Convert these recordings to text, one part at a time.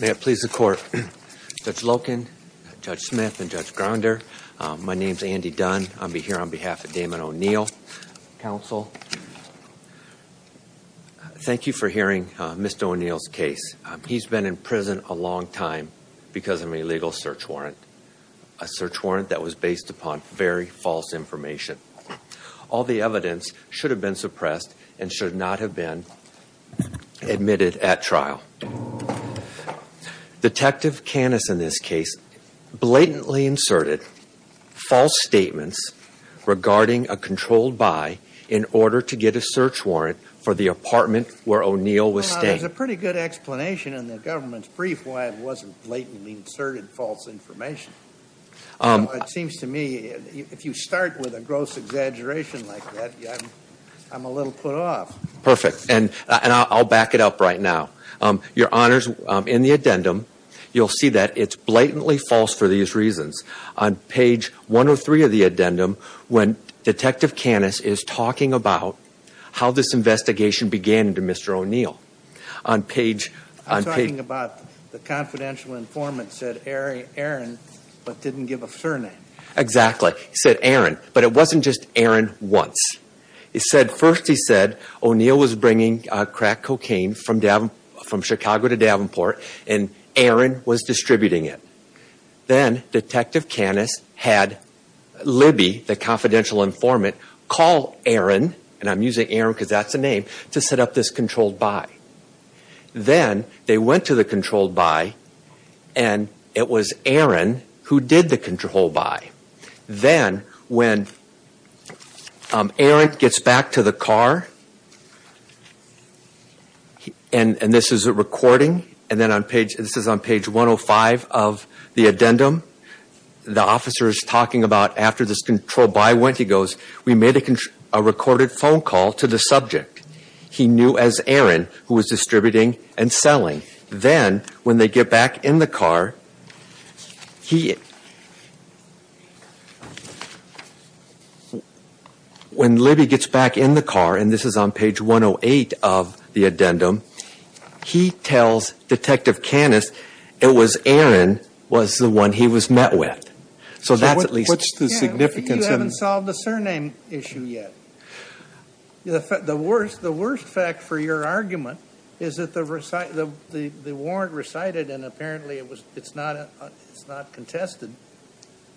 May it please the Court, Judge Loken, Judge Smith, and Judge Grounder, my name is Andy Dunn. I'll be here on behalf of Damon O'Neil, counsel. Thank you for hearing Mr. O'Neil's case. He's been in prison a long time because of an illegal search warrant, a search warrant that was based upon very false information. All the evidence should have been suppressed and should not have been admitted at trial. Detective Canis in this case blatantly inserted false statements regarding a controlled buy in order to get a search warrant for the apartment where O'Neil was staying. There's a pretty good explanation in the government's brief warrant wasn't blatantly inserted false information. It seems to me, if you start with a gross exaggeration like that, I'm a little put off. Perfect, and I'll back it up right now. Your Honors, in the addendum, you'll see that it's blatantly false for these reasons. On page 103 of the addendum, when Detective Canis is talking about how this investigation began to Mr. O'Neil. I'm talking about the confidential informant said Aaron, but didn't give a surname. Exactly. He said Aaron, but it wasn't just Aaron once. He said, first he said O'Neil was bringing crack cocaine from Chicago to Davenport and Aaron was distributing it. Then Detective Canis had Libby, the confidential informant, call Aaron, and I'm using Aaron because that's the name, to set up this controlled buy. Then they went to the controlled buy and it was Aaron who did the controlled buy. Then when Aaron gets back to the car, and this is a recording, and this is on page 105 of the addendum, the officer is talking about after this controlled buy went, he goes, we made a recorded phone call to the subject. He knew as Aaron who was distributing and selling. Then when they get back in the car, when Libby gets back in the car, and this is on page 108 of the addendum, he tells Detective Canis, it was Aaron was the one he was met with. So that's at least what's the significance You haven't solved the surname issue yet. The worst fact for your argument is that the warrant recited, and apparently it's not contested,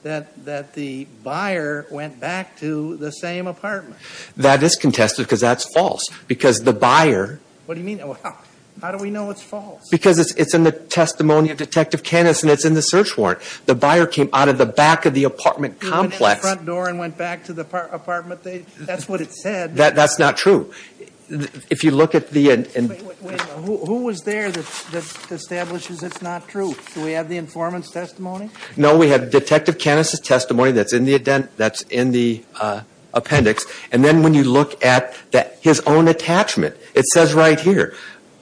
that the buyer went back to the same apartment. That is contested because that's false. Because the buyer What do you mean? How do we know it's false? Because it's in the testimony of Detective Canis and it's in the search warrant. The buyer came out of the back of the apartment complex He went out the front door and went back to the apartment. That's what it said. That's not true. If you look at the Wait a minute. Who was there that establishes it's not true? Do we have the informant's testimony? No, we have Detective Canis' testimony that's in the appendix. Then when you look at his own attachment, it says right here,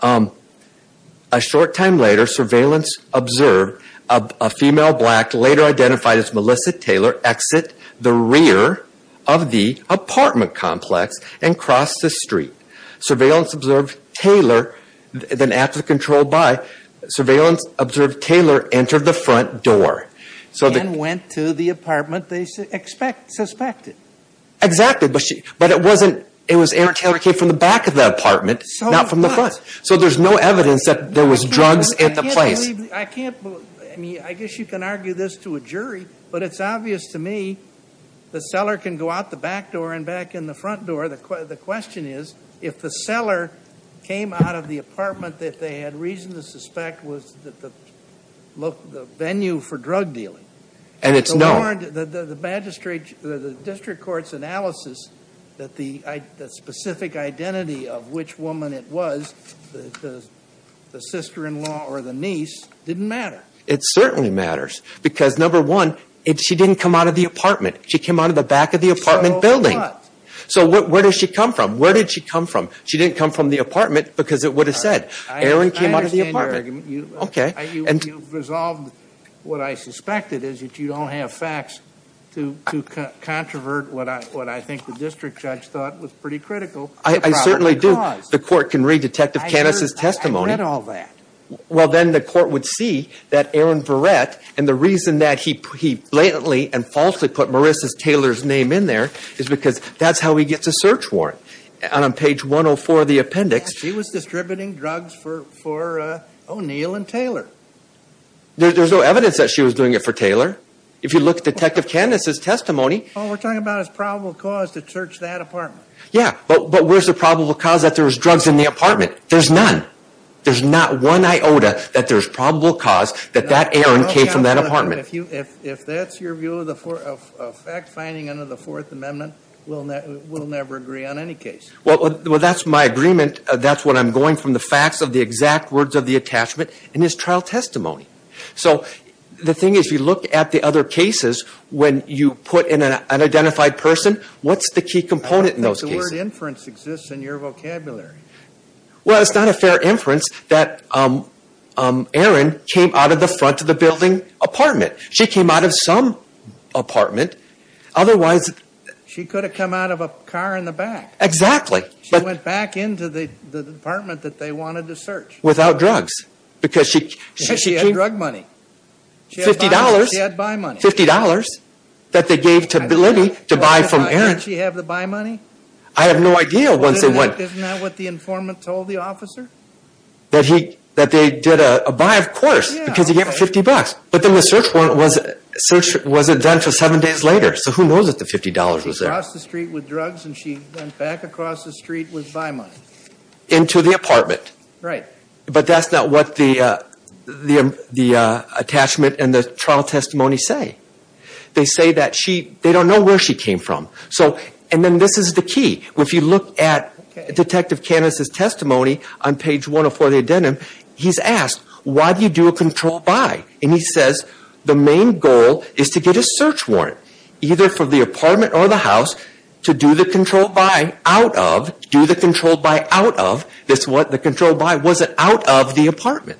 a short time later, surveillance observed a female black, later identified as Melissa Taylor, exit the rear of the apartment complex and cross the street. Surveillance observed Taylor, then after control by, surveillance observed Taylor entered the front door. And went to the apartment they suspected. Exactly. But it wasn't, it was Erin Taylor came from the back of the apartment, not from the front. So there's no evidence that there was drugs at the place. I can't believe, I mean, I guess you can argue this to a jury, but it's obvious to me the seller can go out the back door and back in the front door. The question is, if the seller came out of the apartment that they had reason to suspect was the venue for drug dealing. And it's known. The magistrate, the district court's analysis that the specific identity of which woman it was, the sister-in-law or the niece, didn't matter. It certainly matters. Because number one, she didn't come out of the apartment. She came out of the back of the apartment building. So where did she come from? Where did she come from? She didn't come from the apartment because it would have said. Erin came out of the apartment. OK. And you resolved what I suspected is that you don't have facts to controvert what I think the district judge thought was pretty critical. I certainly do. The court can read Detective Canis' testimony. I read all that. Well, then the court would see that Erin Barrett and the reason that he blatantly and falsely put Marissa Taylor's name in there is because that's how he gets a search warrant. And on page 104 of the appendix. She was distributing drugs for O'Neal and Taylor. There's no evidence that she was doing it for Taylor. If you look at Detective Canis' testimony. All we're talking about is probable cause to search that apartment. Yeah, but where's the probable cause that there was drugs in the apartment? There's none. There's not one iota that there's probable cause that that Erin came from that apartment. If that's your view of fact finding under the Fourth Amendment, we'll never agree on any case. Well, that's my agreement. That's what I'm going from the facts of the exact words of the attachment in his trial testimony. So the thing is, if you look at the other cases, when you put in an identified person, what's the key component in those cases? I don't think the word inference exists in your vocabulary. Well, it's not a fair inference that Erin came out of the front of the building apartment. She came out of some apartment. Otherwise... She could have come out of a car in the back. Exactly. She went back into the apartment that they wanted to search. Without drugs. Because she had drug money. She had buy money. $50 that they gave to Libby to buy from Erin. Didn't she have the buy money? I have no idea once they went... Isn't that what the informant told the officer? That they did a buy, of course, because he gave her $50. But then the search wasn't done until seven days later. So who knows that the $50 was there? She went across the street with drugs and she went back across the street with buy money. Into the apartment. Right. But that's not what the attachment and the trial testimony say. They say that they don't know where she came from. And then this is the key. If you look at Detective Candace's testimony on page 104 of the addendum, he's asked, why do you do a controlled buy? And he says, the main goal is to get a search warrant, either for the apartment or the house, to do the controlled buy out of, do the controlled buy out of, the controlled buy wasn't out of the apartment.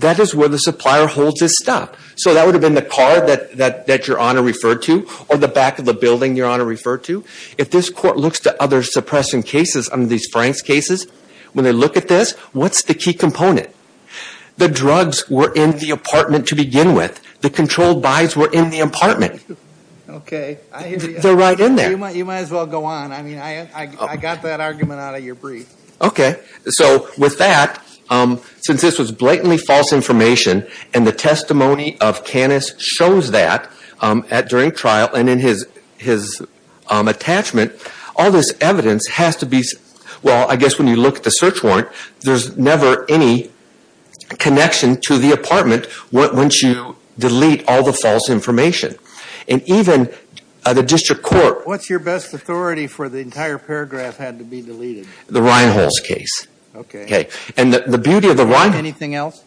That is where the supplier holds his stuff. So that would have been the car that your honor referred to, or the back of the building your honor referred to. If this court looks to other suppressing cases under these Franks cases, when they look at this, what's the key component? The drugs were in the apartment to begin with. The controlled buys were in the apartment. Okay. They're right in there. You might as well go on. I mean, I got that argument out of your brief. Okay. So with that, since this was blatantly false information and the testimony of Candace shows that during trial and in his attachment, all this evidence has to be, well, I guess when you look at the search warrant, there's never any connection to the apartment once you delete all the false information. And even the district court. What's your best authority for the entire paragraph had to be deleted? The Reinholz case. Okay. Okay. And the beauty of the Reinholz... Anything else?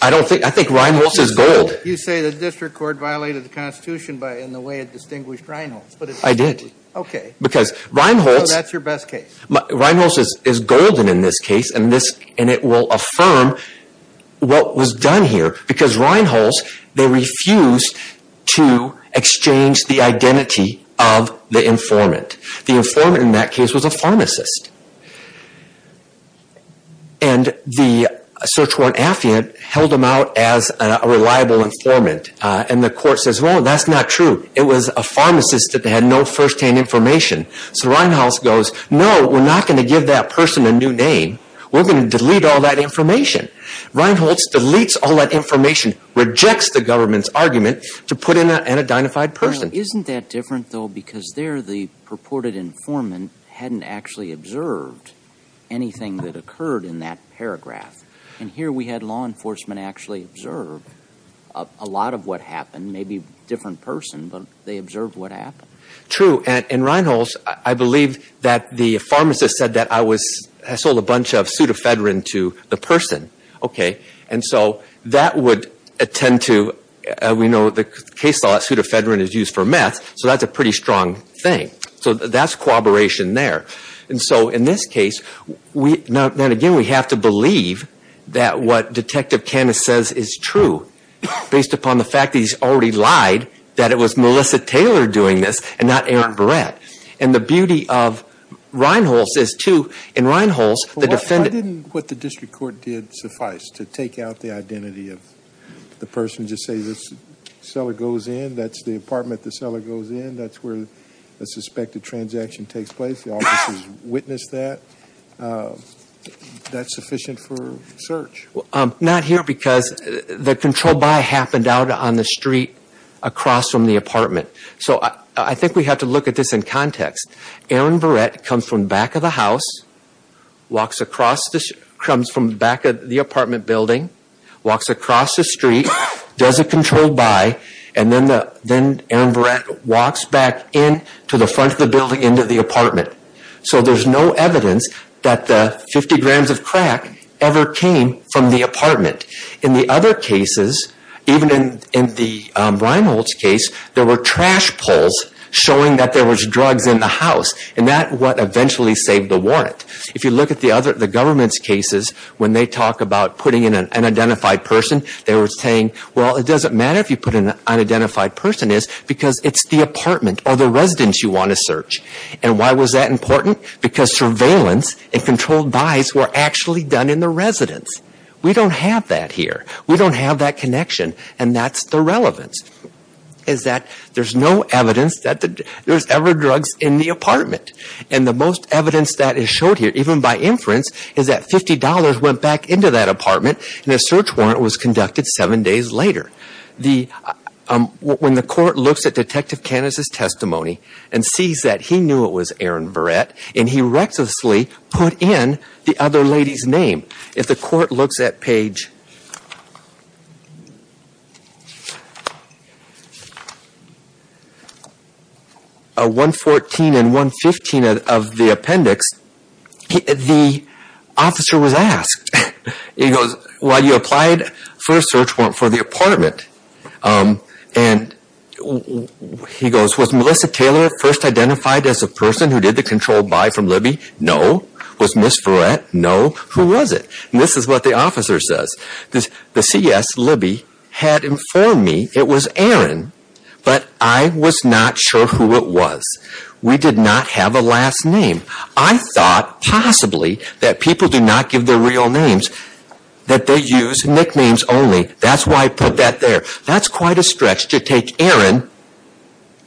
I don't think... I think Reinholz is gold. You say the district court violated the constitution in the way it distinguished Reinholz, but... I did. Okay. Because Reinholz... So that's your best case? Reinholz is golden in this case, and it will affirm what was done here. Because Reinholz, they refused to exchange the identity of the informant. The informant in that case was a pharmacist. And the search warrant affiant held him out as a reliable informant. And the court says, well, that's not true. It was a pharmacist that had no first-hand information. So Reinholz goes, no, we're not going to give that person a new name. We're going to delete all that information. Reinholz deletes all that information, rejects the government's argument to put in a dynafied person. Isn't that different, though, because there the purported informant hadn't actually observed anything that occurred in that paragraph. And here we had law enforcement actually observe a lot of what happened. Maybe a different person, but they observed what happened. True. And Reinholz, I believe that the pharmacist said that I sold a bunch of pseudoephedrine to the person. And so that would attend to, we know the case law that pseudoephedrine is used for meth, so that's a pretty strong thing. So that's cooperation there. And so in this case, then again, we have to believe that what Detective Canis says is true, based upon the fact that he's already lied, that it was Melissa Taylor doing this and not Aaron Barrett. And the beauty of Reinholz is, too, in Reinholz, the defendant... Why didn't what the district court did suffice, to take out the identity of the person, just say this cellar goes in, that's the apartment the cellar goes in, that's where the suspected transaction takes place, the officers witnessed that, that's sufficient for search? Not here because the controlled buy happened out on the street across from the apartment. So I think we have to look at this in context. Aaron Barrett comes from back of the house, comes from back of the apartment building, walks across the street, does a controlled buy, and then Aaron Barrett walks back in to the front of the building into the apartment. So there's no evidence that the 50 grams of crack ever came from the apartment. In the other cases, even in Reinholz's case, there were trash pulls showing that there was drugs in the house, and that's what eventually saved the warrant. If you look at the government's cases, when they talk about putting in an unidentified person, they were saying, well, it doesn't matter if you put in an unidentified person because it's the apartment or the residence you want to search. And why was that important? Because surveillance and controlled buys were actually done in the residence. We don't have that here. We don't have that connection, and that's the relevance, is that there's no evidence that there's ever drugs in the apartment. And the most evidence that is showed here, even by inference, is that $50 went back into that apartment, and a search warrant was conducted seven days later. When the court looks at Detective Caniz's testimony and sees that he knew it was Aaron Barrett, and he recklessly put in the other lady's name. If the court looks at page 114 and 115 of the appendix, the officer was asked, he goes, well, you applied for a search warrant for the apartment. And he goes, was Melissa Taylor first identified as the person who did the controlled buy from Libby? No. Was Miss Verrett? No. Who was it? And this is what the officer says. The CS, Libby, had informed me it was Aaron, but I was not sure who it was. We did not have a last name. I thought, possibly, that people do not give their real names, that they use nicknames only. That's why I put that there. That's quite a stretch to take Aaron,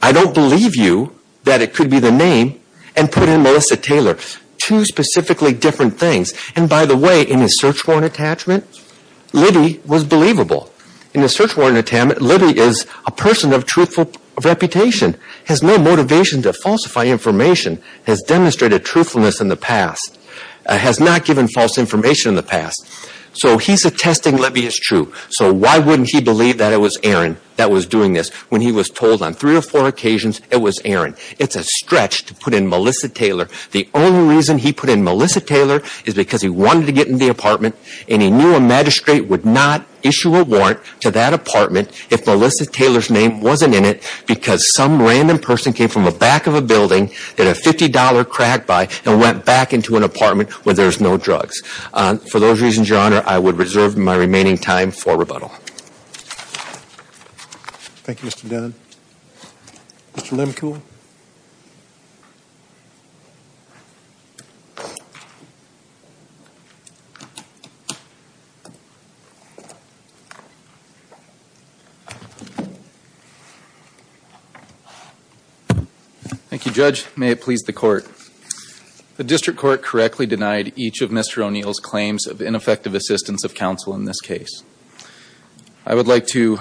I don't believe you, that it could be the name, and put in Melissa Taylor. Two specifically different things. And by the way, in his search warrant attachment, Libby was believable. In the search warrant attachment, Libby is a person of truthful reputation, has no motivation to falsify information, has demonstrated truthfulness in the past, has not given false information in the past. So he's attesting Libby is true. So why wouldn't he believe that it was Aaron that was doing this when he was told on three or four occasions it was Aaron? It's a stretch to put in Melissa Taylor. The only reason he put in Melissa Taylor is because he wanted to get in the apartment, and he knew a magistrate would not issue a warrant to that apartment if Melissa Taylor's name wasn't in it, because some random person came from the back of a building, did a $50 crack buy, and went back into an apartment where there's no drugs. For those reasons, Your Honor, I would reserve my remaining time for rebuttal. Thank you, Mr. Dunn. Mr. Limbkuhl? Thank you, Judge. May it please the Court. The district court correctly denied each of Mr. O'Neill's claims of ineffective assistance of counsel in this case. I would like to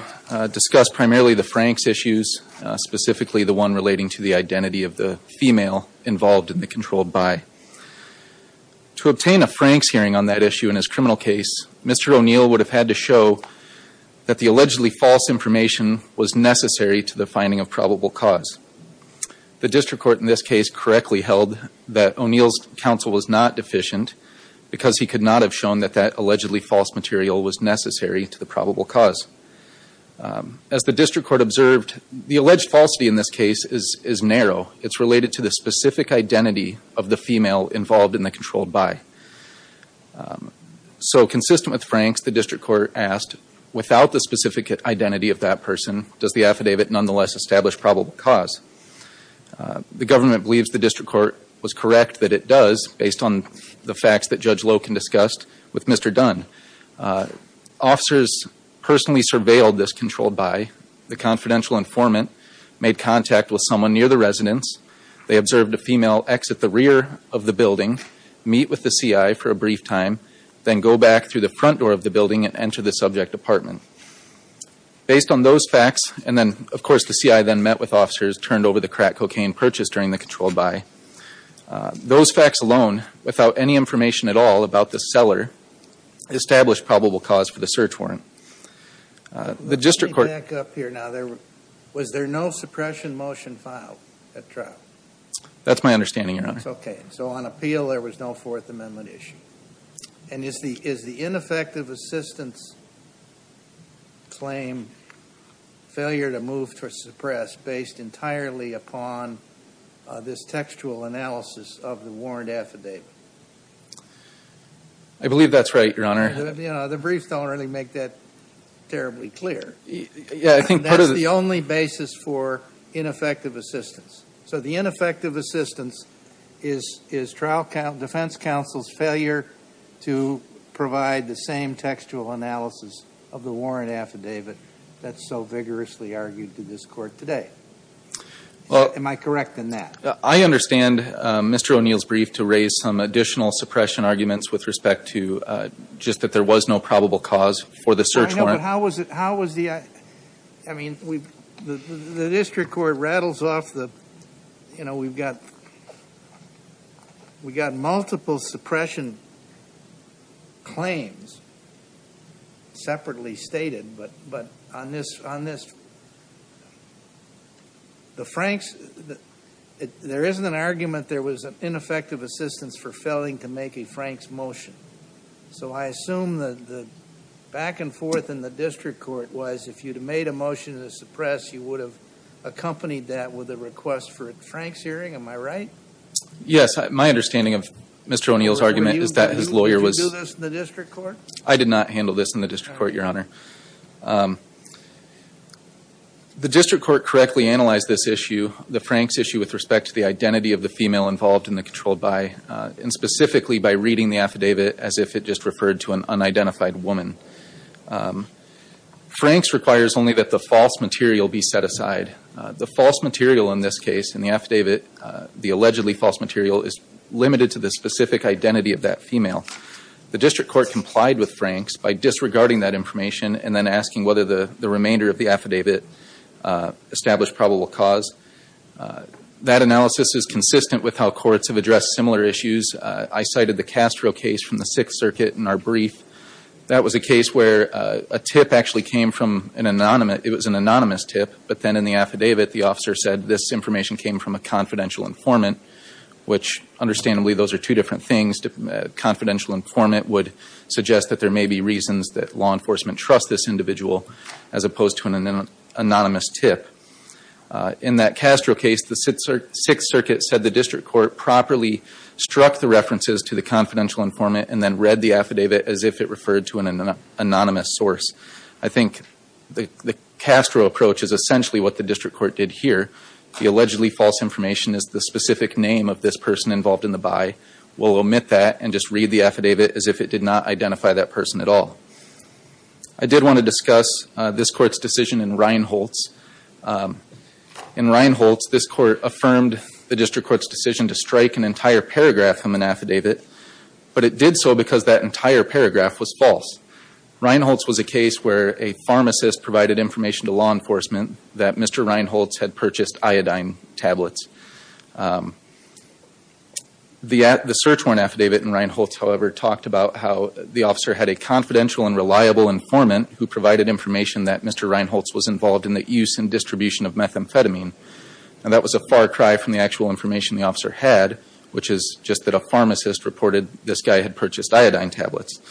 discuss primarily the Franks issues, specifically the one relating to the identity of the female involved in the controlled buy. To obtain a Franks hearing on that issue in his criminal case, Mr. O'Neill would have had to show that the allegedly false information was necessary to the finding of probable cause. The district court in this case correctly held that O'Neill's counsel was not deficient because he could not have shown that that allegedly false material was necessary to the probable cause. As the district court observed, the alleged falsity in this case is narrow. It's related to the specific identity of the female involved in the controlled buy. So consistent with Franks, the district court asked, without the specific identity of that person, does the affidavit nonetheless establish probable cause? The government believes the district court was correct that it does, based on the facts that Judge Loken discussed with Mr. Dunn. Officers personally surveilled this controlled buy. The confidential informant made contact with someone near the residence. They observed a female exit the rear of the building, meet with the CI for a brief time, then go back through the front door of the building and enter the subject apartment. Based on those facts, and then of course the CI then met with officers, turned over the crack cocaine purchased during the controlled buy, those facts alone, without any information at all about the seller, established probable cause for the search warrant. The district court- Let me back up here now. Was there no suppression motion filed at trial? That's my understanding, Your Honor. That's okay. So on appeal, there was no Fourth Amendment issue. And is the ineffective assistance claim failure to move to suppress based entirely upon this textual analysis of the warrant affidavit? I believe that's right, Your Honor. The briefs don't really make that terribly clear. That's the only basis for ineffective assistance. So the ineffective assistance is defense counsel's failure to provide the same textual analysis of the warrant affidavit that's so vigorously argued to this court today. Am I correct in that? Well, I understand Mr. O'Neill's brief to raise some additional suppression arguments with respect to just that there was no probable cause for the search warrant. No, but how was the... I mean, the district court rattles off the... We've got multiple suppression claims separately stated, but on this... There isn't an argument there was an ineffective assistance for failing to make a Frank's motion. So I assume that the back and forth in the district court was if you'd have made a motion to suppress, you would have accompanied that with a request for a Frank's hearing, am I right? Yes. My understanding of Mr. O'Neill's argument is that his lawyer was... Did you do this in the district court? I did not handle this in the district court, Your Honor. The district court correctly analyzed this issue, the Frank's issue, with respect to the identity of the female involved in the controlled by, and specifically by reading the affidavit as if it just referred to an unidentified woman. Frank's requires only that the false material be set aside. The false material in this case, in the affidavit, the allegedly false material is limited to the specific identity of that female. The district court complied with Frank's by disregarding that information and then asking whether the remainder of the affidavit established probable cause. That analysis is consistent with how courts have addressed similar issues. I cited the Castro case from the Sixth Circuit in our brief. That was a case where a tip actually came from an anonymous tip, but then in the affidavit the officer said this information came from a confidential informant, which understandably those are two different things. Confidential informant would suggest that there may be reasons that law enforcement trusts this individual as opposed to an anonymous tip. In that Castro case, the Sixth Circuit said the district court properly struck the references to the confidential informant and then read the affidavit as if it referred to an anonymous source. I think the Castro approach is essentially what the district court did here. The allegedly false information is the specific name of this person involved in the by. We'll omit that and just read the affidavit as if it did not identify that person at all. I did want to discuss this court's decision in Reinholz. In Reinholz, this court affirmed the district court's decision to strike an entire paragraph from an affidavit, but it did so because that entire paragraph was false. Reinholz was a case where a pharmacist provided information to law enforcement that Mr. Reinholz had purchased iodine tablets. The search warrant affidavit in Reinholz, however, talked about how the officer had a confidential and reliable informant who provided information that Mr. Reinholz was involved in the use and distribution of methamphetamine. That was a far cry from the actual information the officer had, which is just that a pharmacist reported this guy had purchased iodine tablets.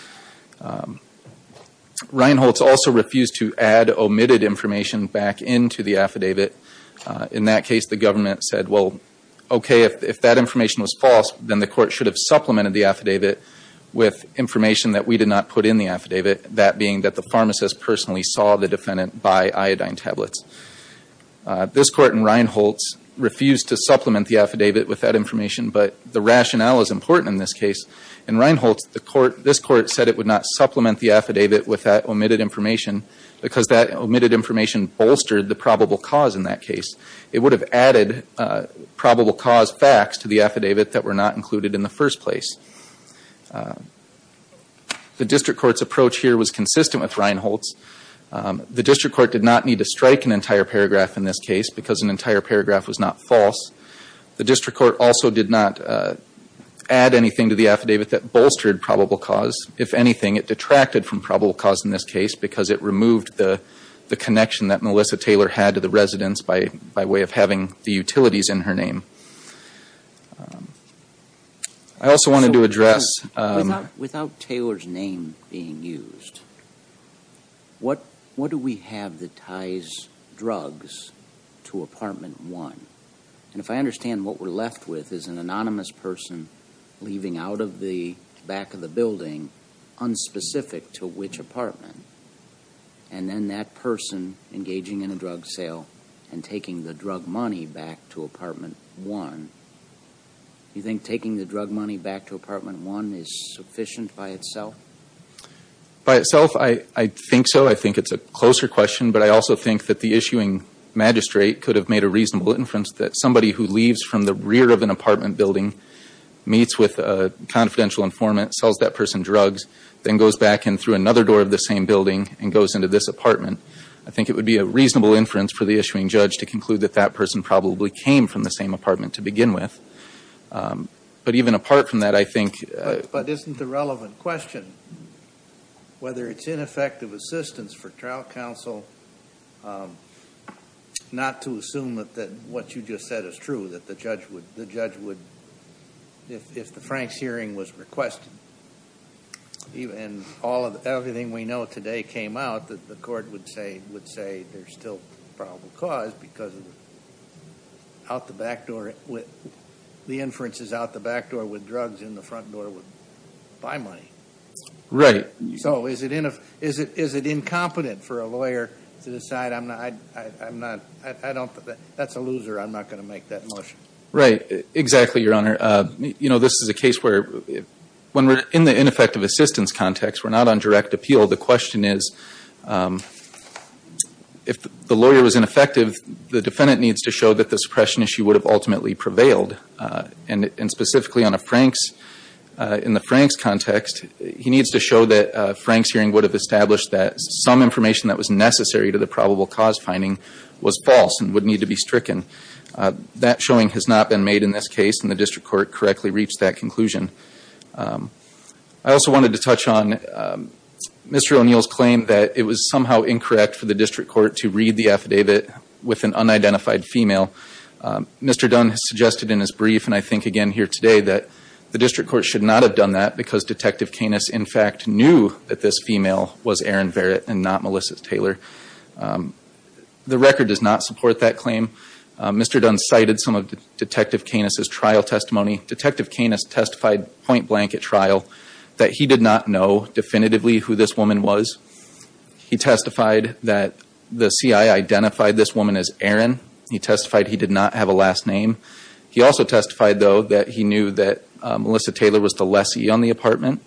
Reinholz also refused to add omitted information back into the affidavit. In that case, the government said, well, okay, if that information was false, then the court should have supplemented the affidavit with information that we did not put in the affidavit, that being that the pharmacist personally saw the defendant buy iodine tablets. This court in Reinholz refused to supplement the affidavit with that information, but the rationale is important in this case. In Reinholz, this court said it would not supplement the affidavit with that omitted information bolstered the probable cause in that case. It would have added probable cause facts to the affidavit that were not included in the first place. The district court's approach here was consistent with Reinholz. The district court did not need to strike an entire paragraph in this case because an entire paragraph was not false. The district court also did not add anything to the affidavit that bolstered probable cause. If anything, it detracted from probable cause in this case because it removed the connection that Melissa Taylor had to the residence by way of having the utilities in her name. I also wanted to address... Without Taylor's name being used, what do we have that ties drugs to Apartment 1? And if I understand what we're left with is an anonymous person leaving out of the back of the building, unspecific to which apartment, and then that person engaging in a drug sale and taking the drug money back to Apartment 1. You think taking the drug money back to Apartment 1 is sufficient by itself? By itself, I think so. I think it's a closer question, but I also think that the issuing magistrate could have made a reasonable inference that somebody who leaves from the rear of an apartment building meets with a confidential informant, sells that person drugs, then goes back in through another door of the same building and goes into this apartment. I think it would be a reasonable inference for the issuing judge to conclude that that person probably came from the same apartment to begin with. But even apart from that, I think... But isn't the relevant question whether it's ineffective assistance for trial counsel not to assume that what you just said is true, that the judge would, if the Franks hearing was requested, and everything we know today came out, that the court would say there's still probable cause because the inferences out the back door with drugs in the front door would buy money. Right. So is it incompetent for a lawyer to decide, that's a loser, I'm not going to make that motion. Right. Exactly, Your Honor. You know, this is a case where, when we're in the ineffective assistance context, we're not on direct appeal. The question is, if the lawyer was ineffective, the defendant needs to show that the suppression issue would have ultimately prevailed. And specifically on a Franks, in the Franks context, he needs to show that a Franks hearing would have established that some information that was necessary to the probable cause finding was false and would need to be stricken. That showing has not been made in this case, and the district court correctly reached that conclusion. I also wanted to touch on Mr. O'Neill's claim that it was somehow incorrect for the district court to read the affidavit with an unidentified female. Mr. Dunn has suggested in his brief, and I think again here today, that the district court should not have done that because Detective Canis, in fact, knew that this female was Erin Verrett and not Melissa Taylor. The record does not support that claim. Mr. Dunn cited some of Detective Canis' trial testimony. Detective Canis testified point blank at trial that he did not know definitively who this He testified that the CI identified this woman as Erin. He testified he did not have a last name. He also testified, though, that he knew that Melissa Taylor was the lessee on the apartment.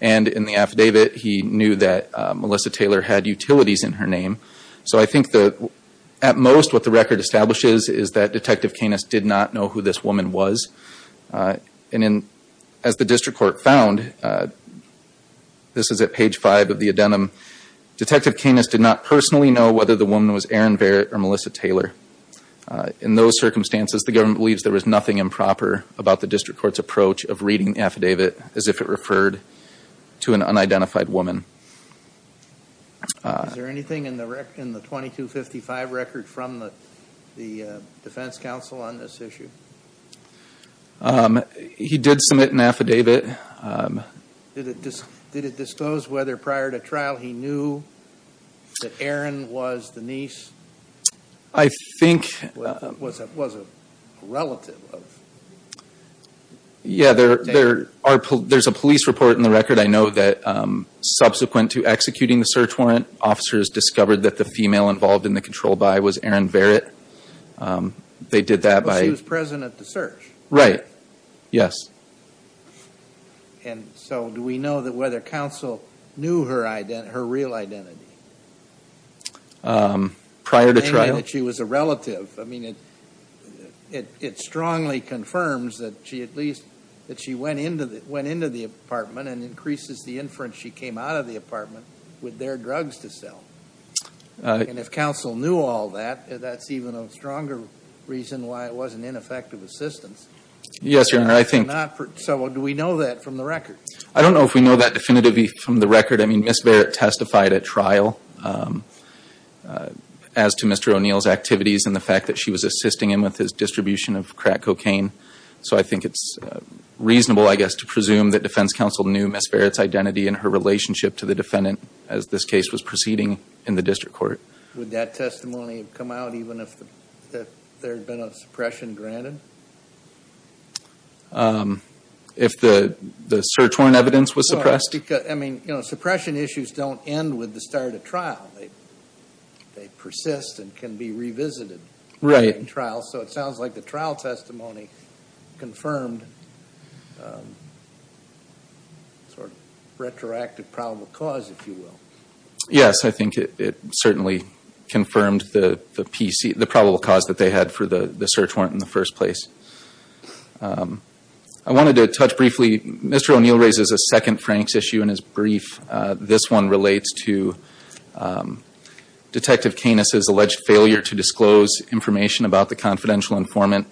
In the affidavit, he knew that Melissa Taylor had utilities in her name. I think at most what the record establishes is that Detective Canis did not know who this woman was. As the district court found, this is at page five of the Adenum, Detective Canis did not personally know whether the woman was Erin Verrett or Melissa Taylor. In those circumstances, the government believes there was nothing improper about the district court's approach of reading the affidavit as if it referred to an unidentified woman. Is there anything in the 2255 record from the defense counsel on this issue? He did submit an affidavit. Did it disclose whether prior to trial he knew that Erin was the niece? I think. Was a relative of. Yeah, there's a police report in the record. I know that subsequent to executing the search warrant, officers discovered that the female involved in the control by was Erin Verrett. They did that by. She was present at the search. Right. Yes. And so do we know that whether counsel knew her identity, her real identity? Prior to trial. She was a relative. I mean, it strongly confirms that she at least that she went into the went into the apartment and increases the inference. She came out of the apartment with their drugs to sell and if counsel knew all that, that's even a stronger reason why it was an ineffective assistance. Yes. Your Honor. I think. So do we know that from the record? I don't know if we know that definitively from the record. I mean, Miss Verrett testified at trial as to Mr. O'Neill's activities and the fact that she was assisting him with his distribution of crack cocaine. So I think it's reasonable, I guess, to presume that defense counsel knew Miss Verrett's identity and her relationship to the defendant as this case was proceeding in the district court. Would that testimony have come out even if there had been a suppression granted? If the search warrant evidence was suppressed? I mean, you know, suppression issues don't end with the start of trial. They persist and can be revisited. Right. In trial. So it sounds like the trial testimony confirmed sort of retroactive probable cause, if you will. Yes. I think it certainly confirmed the probable cause that they had for the search warrant in the first place. I wanted to touch briefly, Mr. O'Neill raises a second Frank's issue in his brief. This one relates to Detective Canis's alleged failure to disclose information about the confidential informant.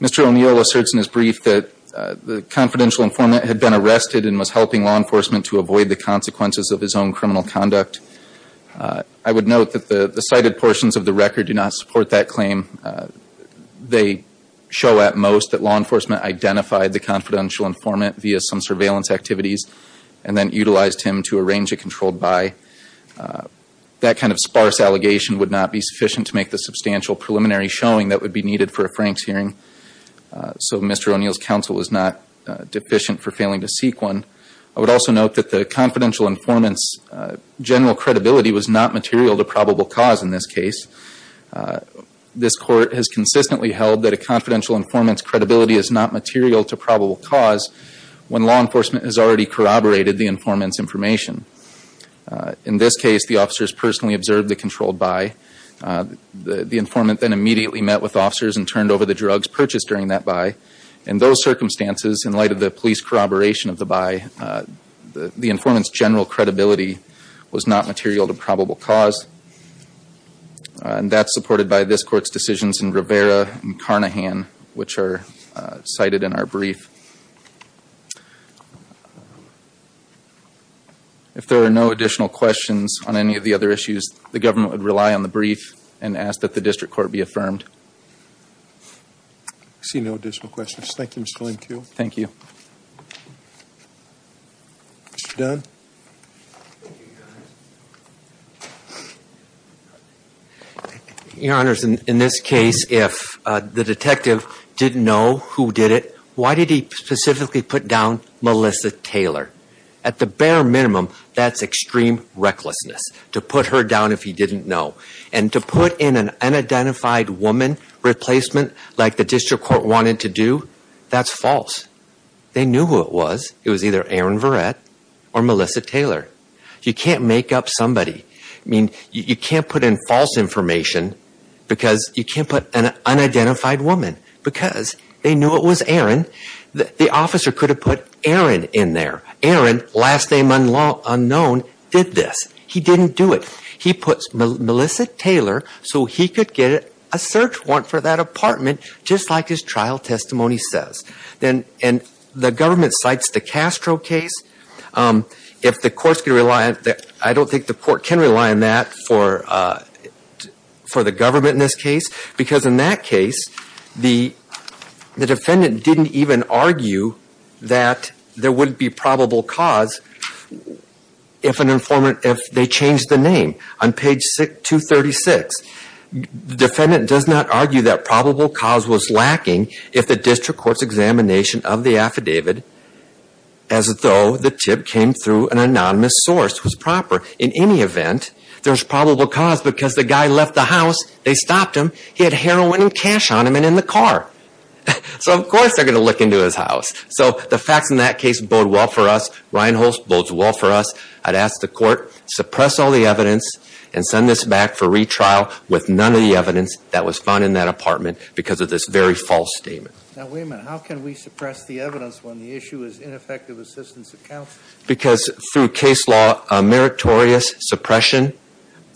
Mr. O'Neill asserts in his brief that the confidential informant had been arrested and was helping law enforcement to avoid the consequences of his own criminal conduct. I would note that the cited portions of the record do not support that claim. They show at most that law enforcement identified the confidential informant via some surveillance activities and then utilized him to arrange a controlled buy. That kind of sparse allegation would not be sufficient to make the substantial preliminary showing that would be needed for a Frank's hearing. So Mr. O'Neill's counsel was not deficient for failing to seek one. I would also note that the confidential informant's general credibility was not material to probable cause in this case. This court has consistently held that a confidential informant's credibility is not material to probable cause when law enforcement has already corroborated the informant's information. In this case, the officers personally observed the controlled buy. The informant then immediately met with officers and turned over the drugs purchased during that buy. In those circumstances, in light of the police corroboration of the buy, the informant's general credibility was not material to probable cause. And that's supported by this court's decisions in Rivera and Carnahan, which are cited in our brief. If there are no additional questions on any of the other issues, the government would rely on the brief and ask that the district court be affirmed. See no additional questions. Thank you Mr. O'Neill. Thank you. Mr. Dunn. Your Honor, in this case, if the detective didn't know who did it, why did he specifically put down Melissa Taylor? At the bare minimum, that's extreme recklessness to put her down if he didn't know. And to put in an unidentified woman replacement like the district court wanted to do, that's false. They knew who it was. It was either Erin Verrett or Melissa Taylor. You can't make up somebody. You can't put in false information because you can't put an unidentified woman because they knew it was Erin. The officer could have put Erin in there. Erin, last name unknown, did this. He didn't do it. He puts Melissa Taylor so he could get a search warrant for that apartment, just like his trial testimony says. And the government cites the Castro case. If the court can rely on that, I don't think the court can rely on that for the government in this case because in that case, the defendant didn't even argue that there wouldn't be probable cause if they changed the name. On page 236, the defendant does not argue that probable cause was lacking if the district court's examination of the affidavit, as though the tip came through an anonymous source, was proper. In any event, there's probable cause because the guy left the house, they stopped him, he had heroin and cash on him and in the car. So of course they're going to look into his house. So the facts in that case bode well for us. Reinholz bodes well for us. I'd ask the court, suppress all the evidence and send this back for retrial with none of the evidence that was found in that apartment because of this very false statement. Now, wait a minute. How can we suppress the evidence when the issue is ineffective assistance of counsel? Because through case law, a meritorious suppression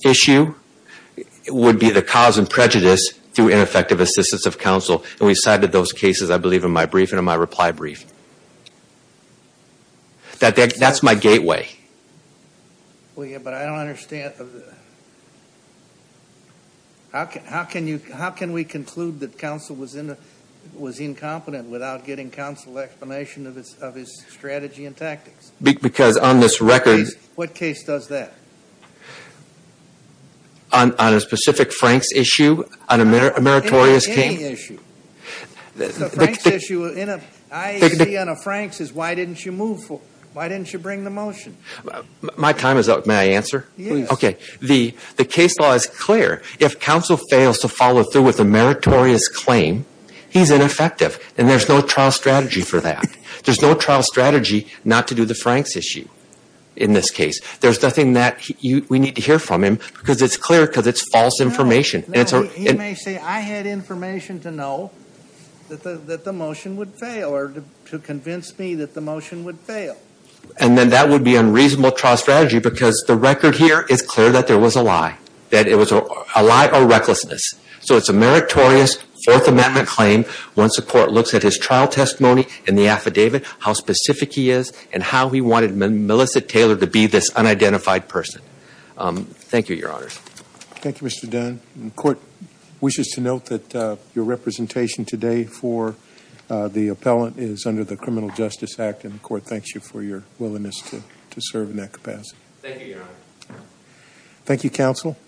issue would be the cause and prejudice through ineffective assistance of counsel and we cited those cases, I believe, in my brief and in my reply brief. That's my gateway. Well, yeah, but I don't understand. How can we conclude that counsel was incompetent without getting counsel explanation of his strategy and tactics? Because on this record... What case does that? On a specific Franks issue, on a meritorious claim? Any issue. The Franks issue, I.E. on a Franks is why didn't you move for... Why didn't you bring the motion? My time is up. May I answer? Yes. Okay. The case law is clear. If counsel fails to follow through with a meritorious claim, he's ineffective and there's no trial strategy for that. There's no trial strategy not to do the Franks issue in this case. There's nothing that we need to hear from him because it's clear because it's false information. He may say, I had information to know that the motion would fail or to convince me that the motion would fail. And then that would be unreasonable trial strategy because the record here is clear that there was a lie, that it was a lie or recklessness. So it's a meritorious Fourth Amendment claim. Once the court looks at his trial testimony and the affidavit, how specific he is and how he wanted Melissa Taylor to be this unidentified person. Thank you, your honors. Thank you, Mr. Dunn. The court wishes to note that your representation today for the appellant is under the Criminal Justice Act and the court thanks you for your willingness to serve in that capacity. Thank you, your honor.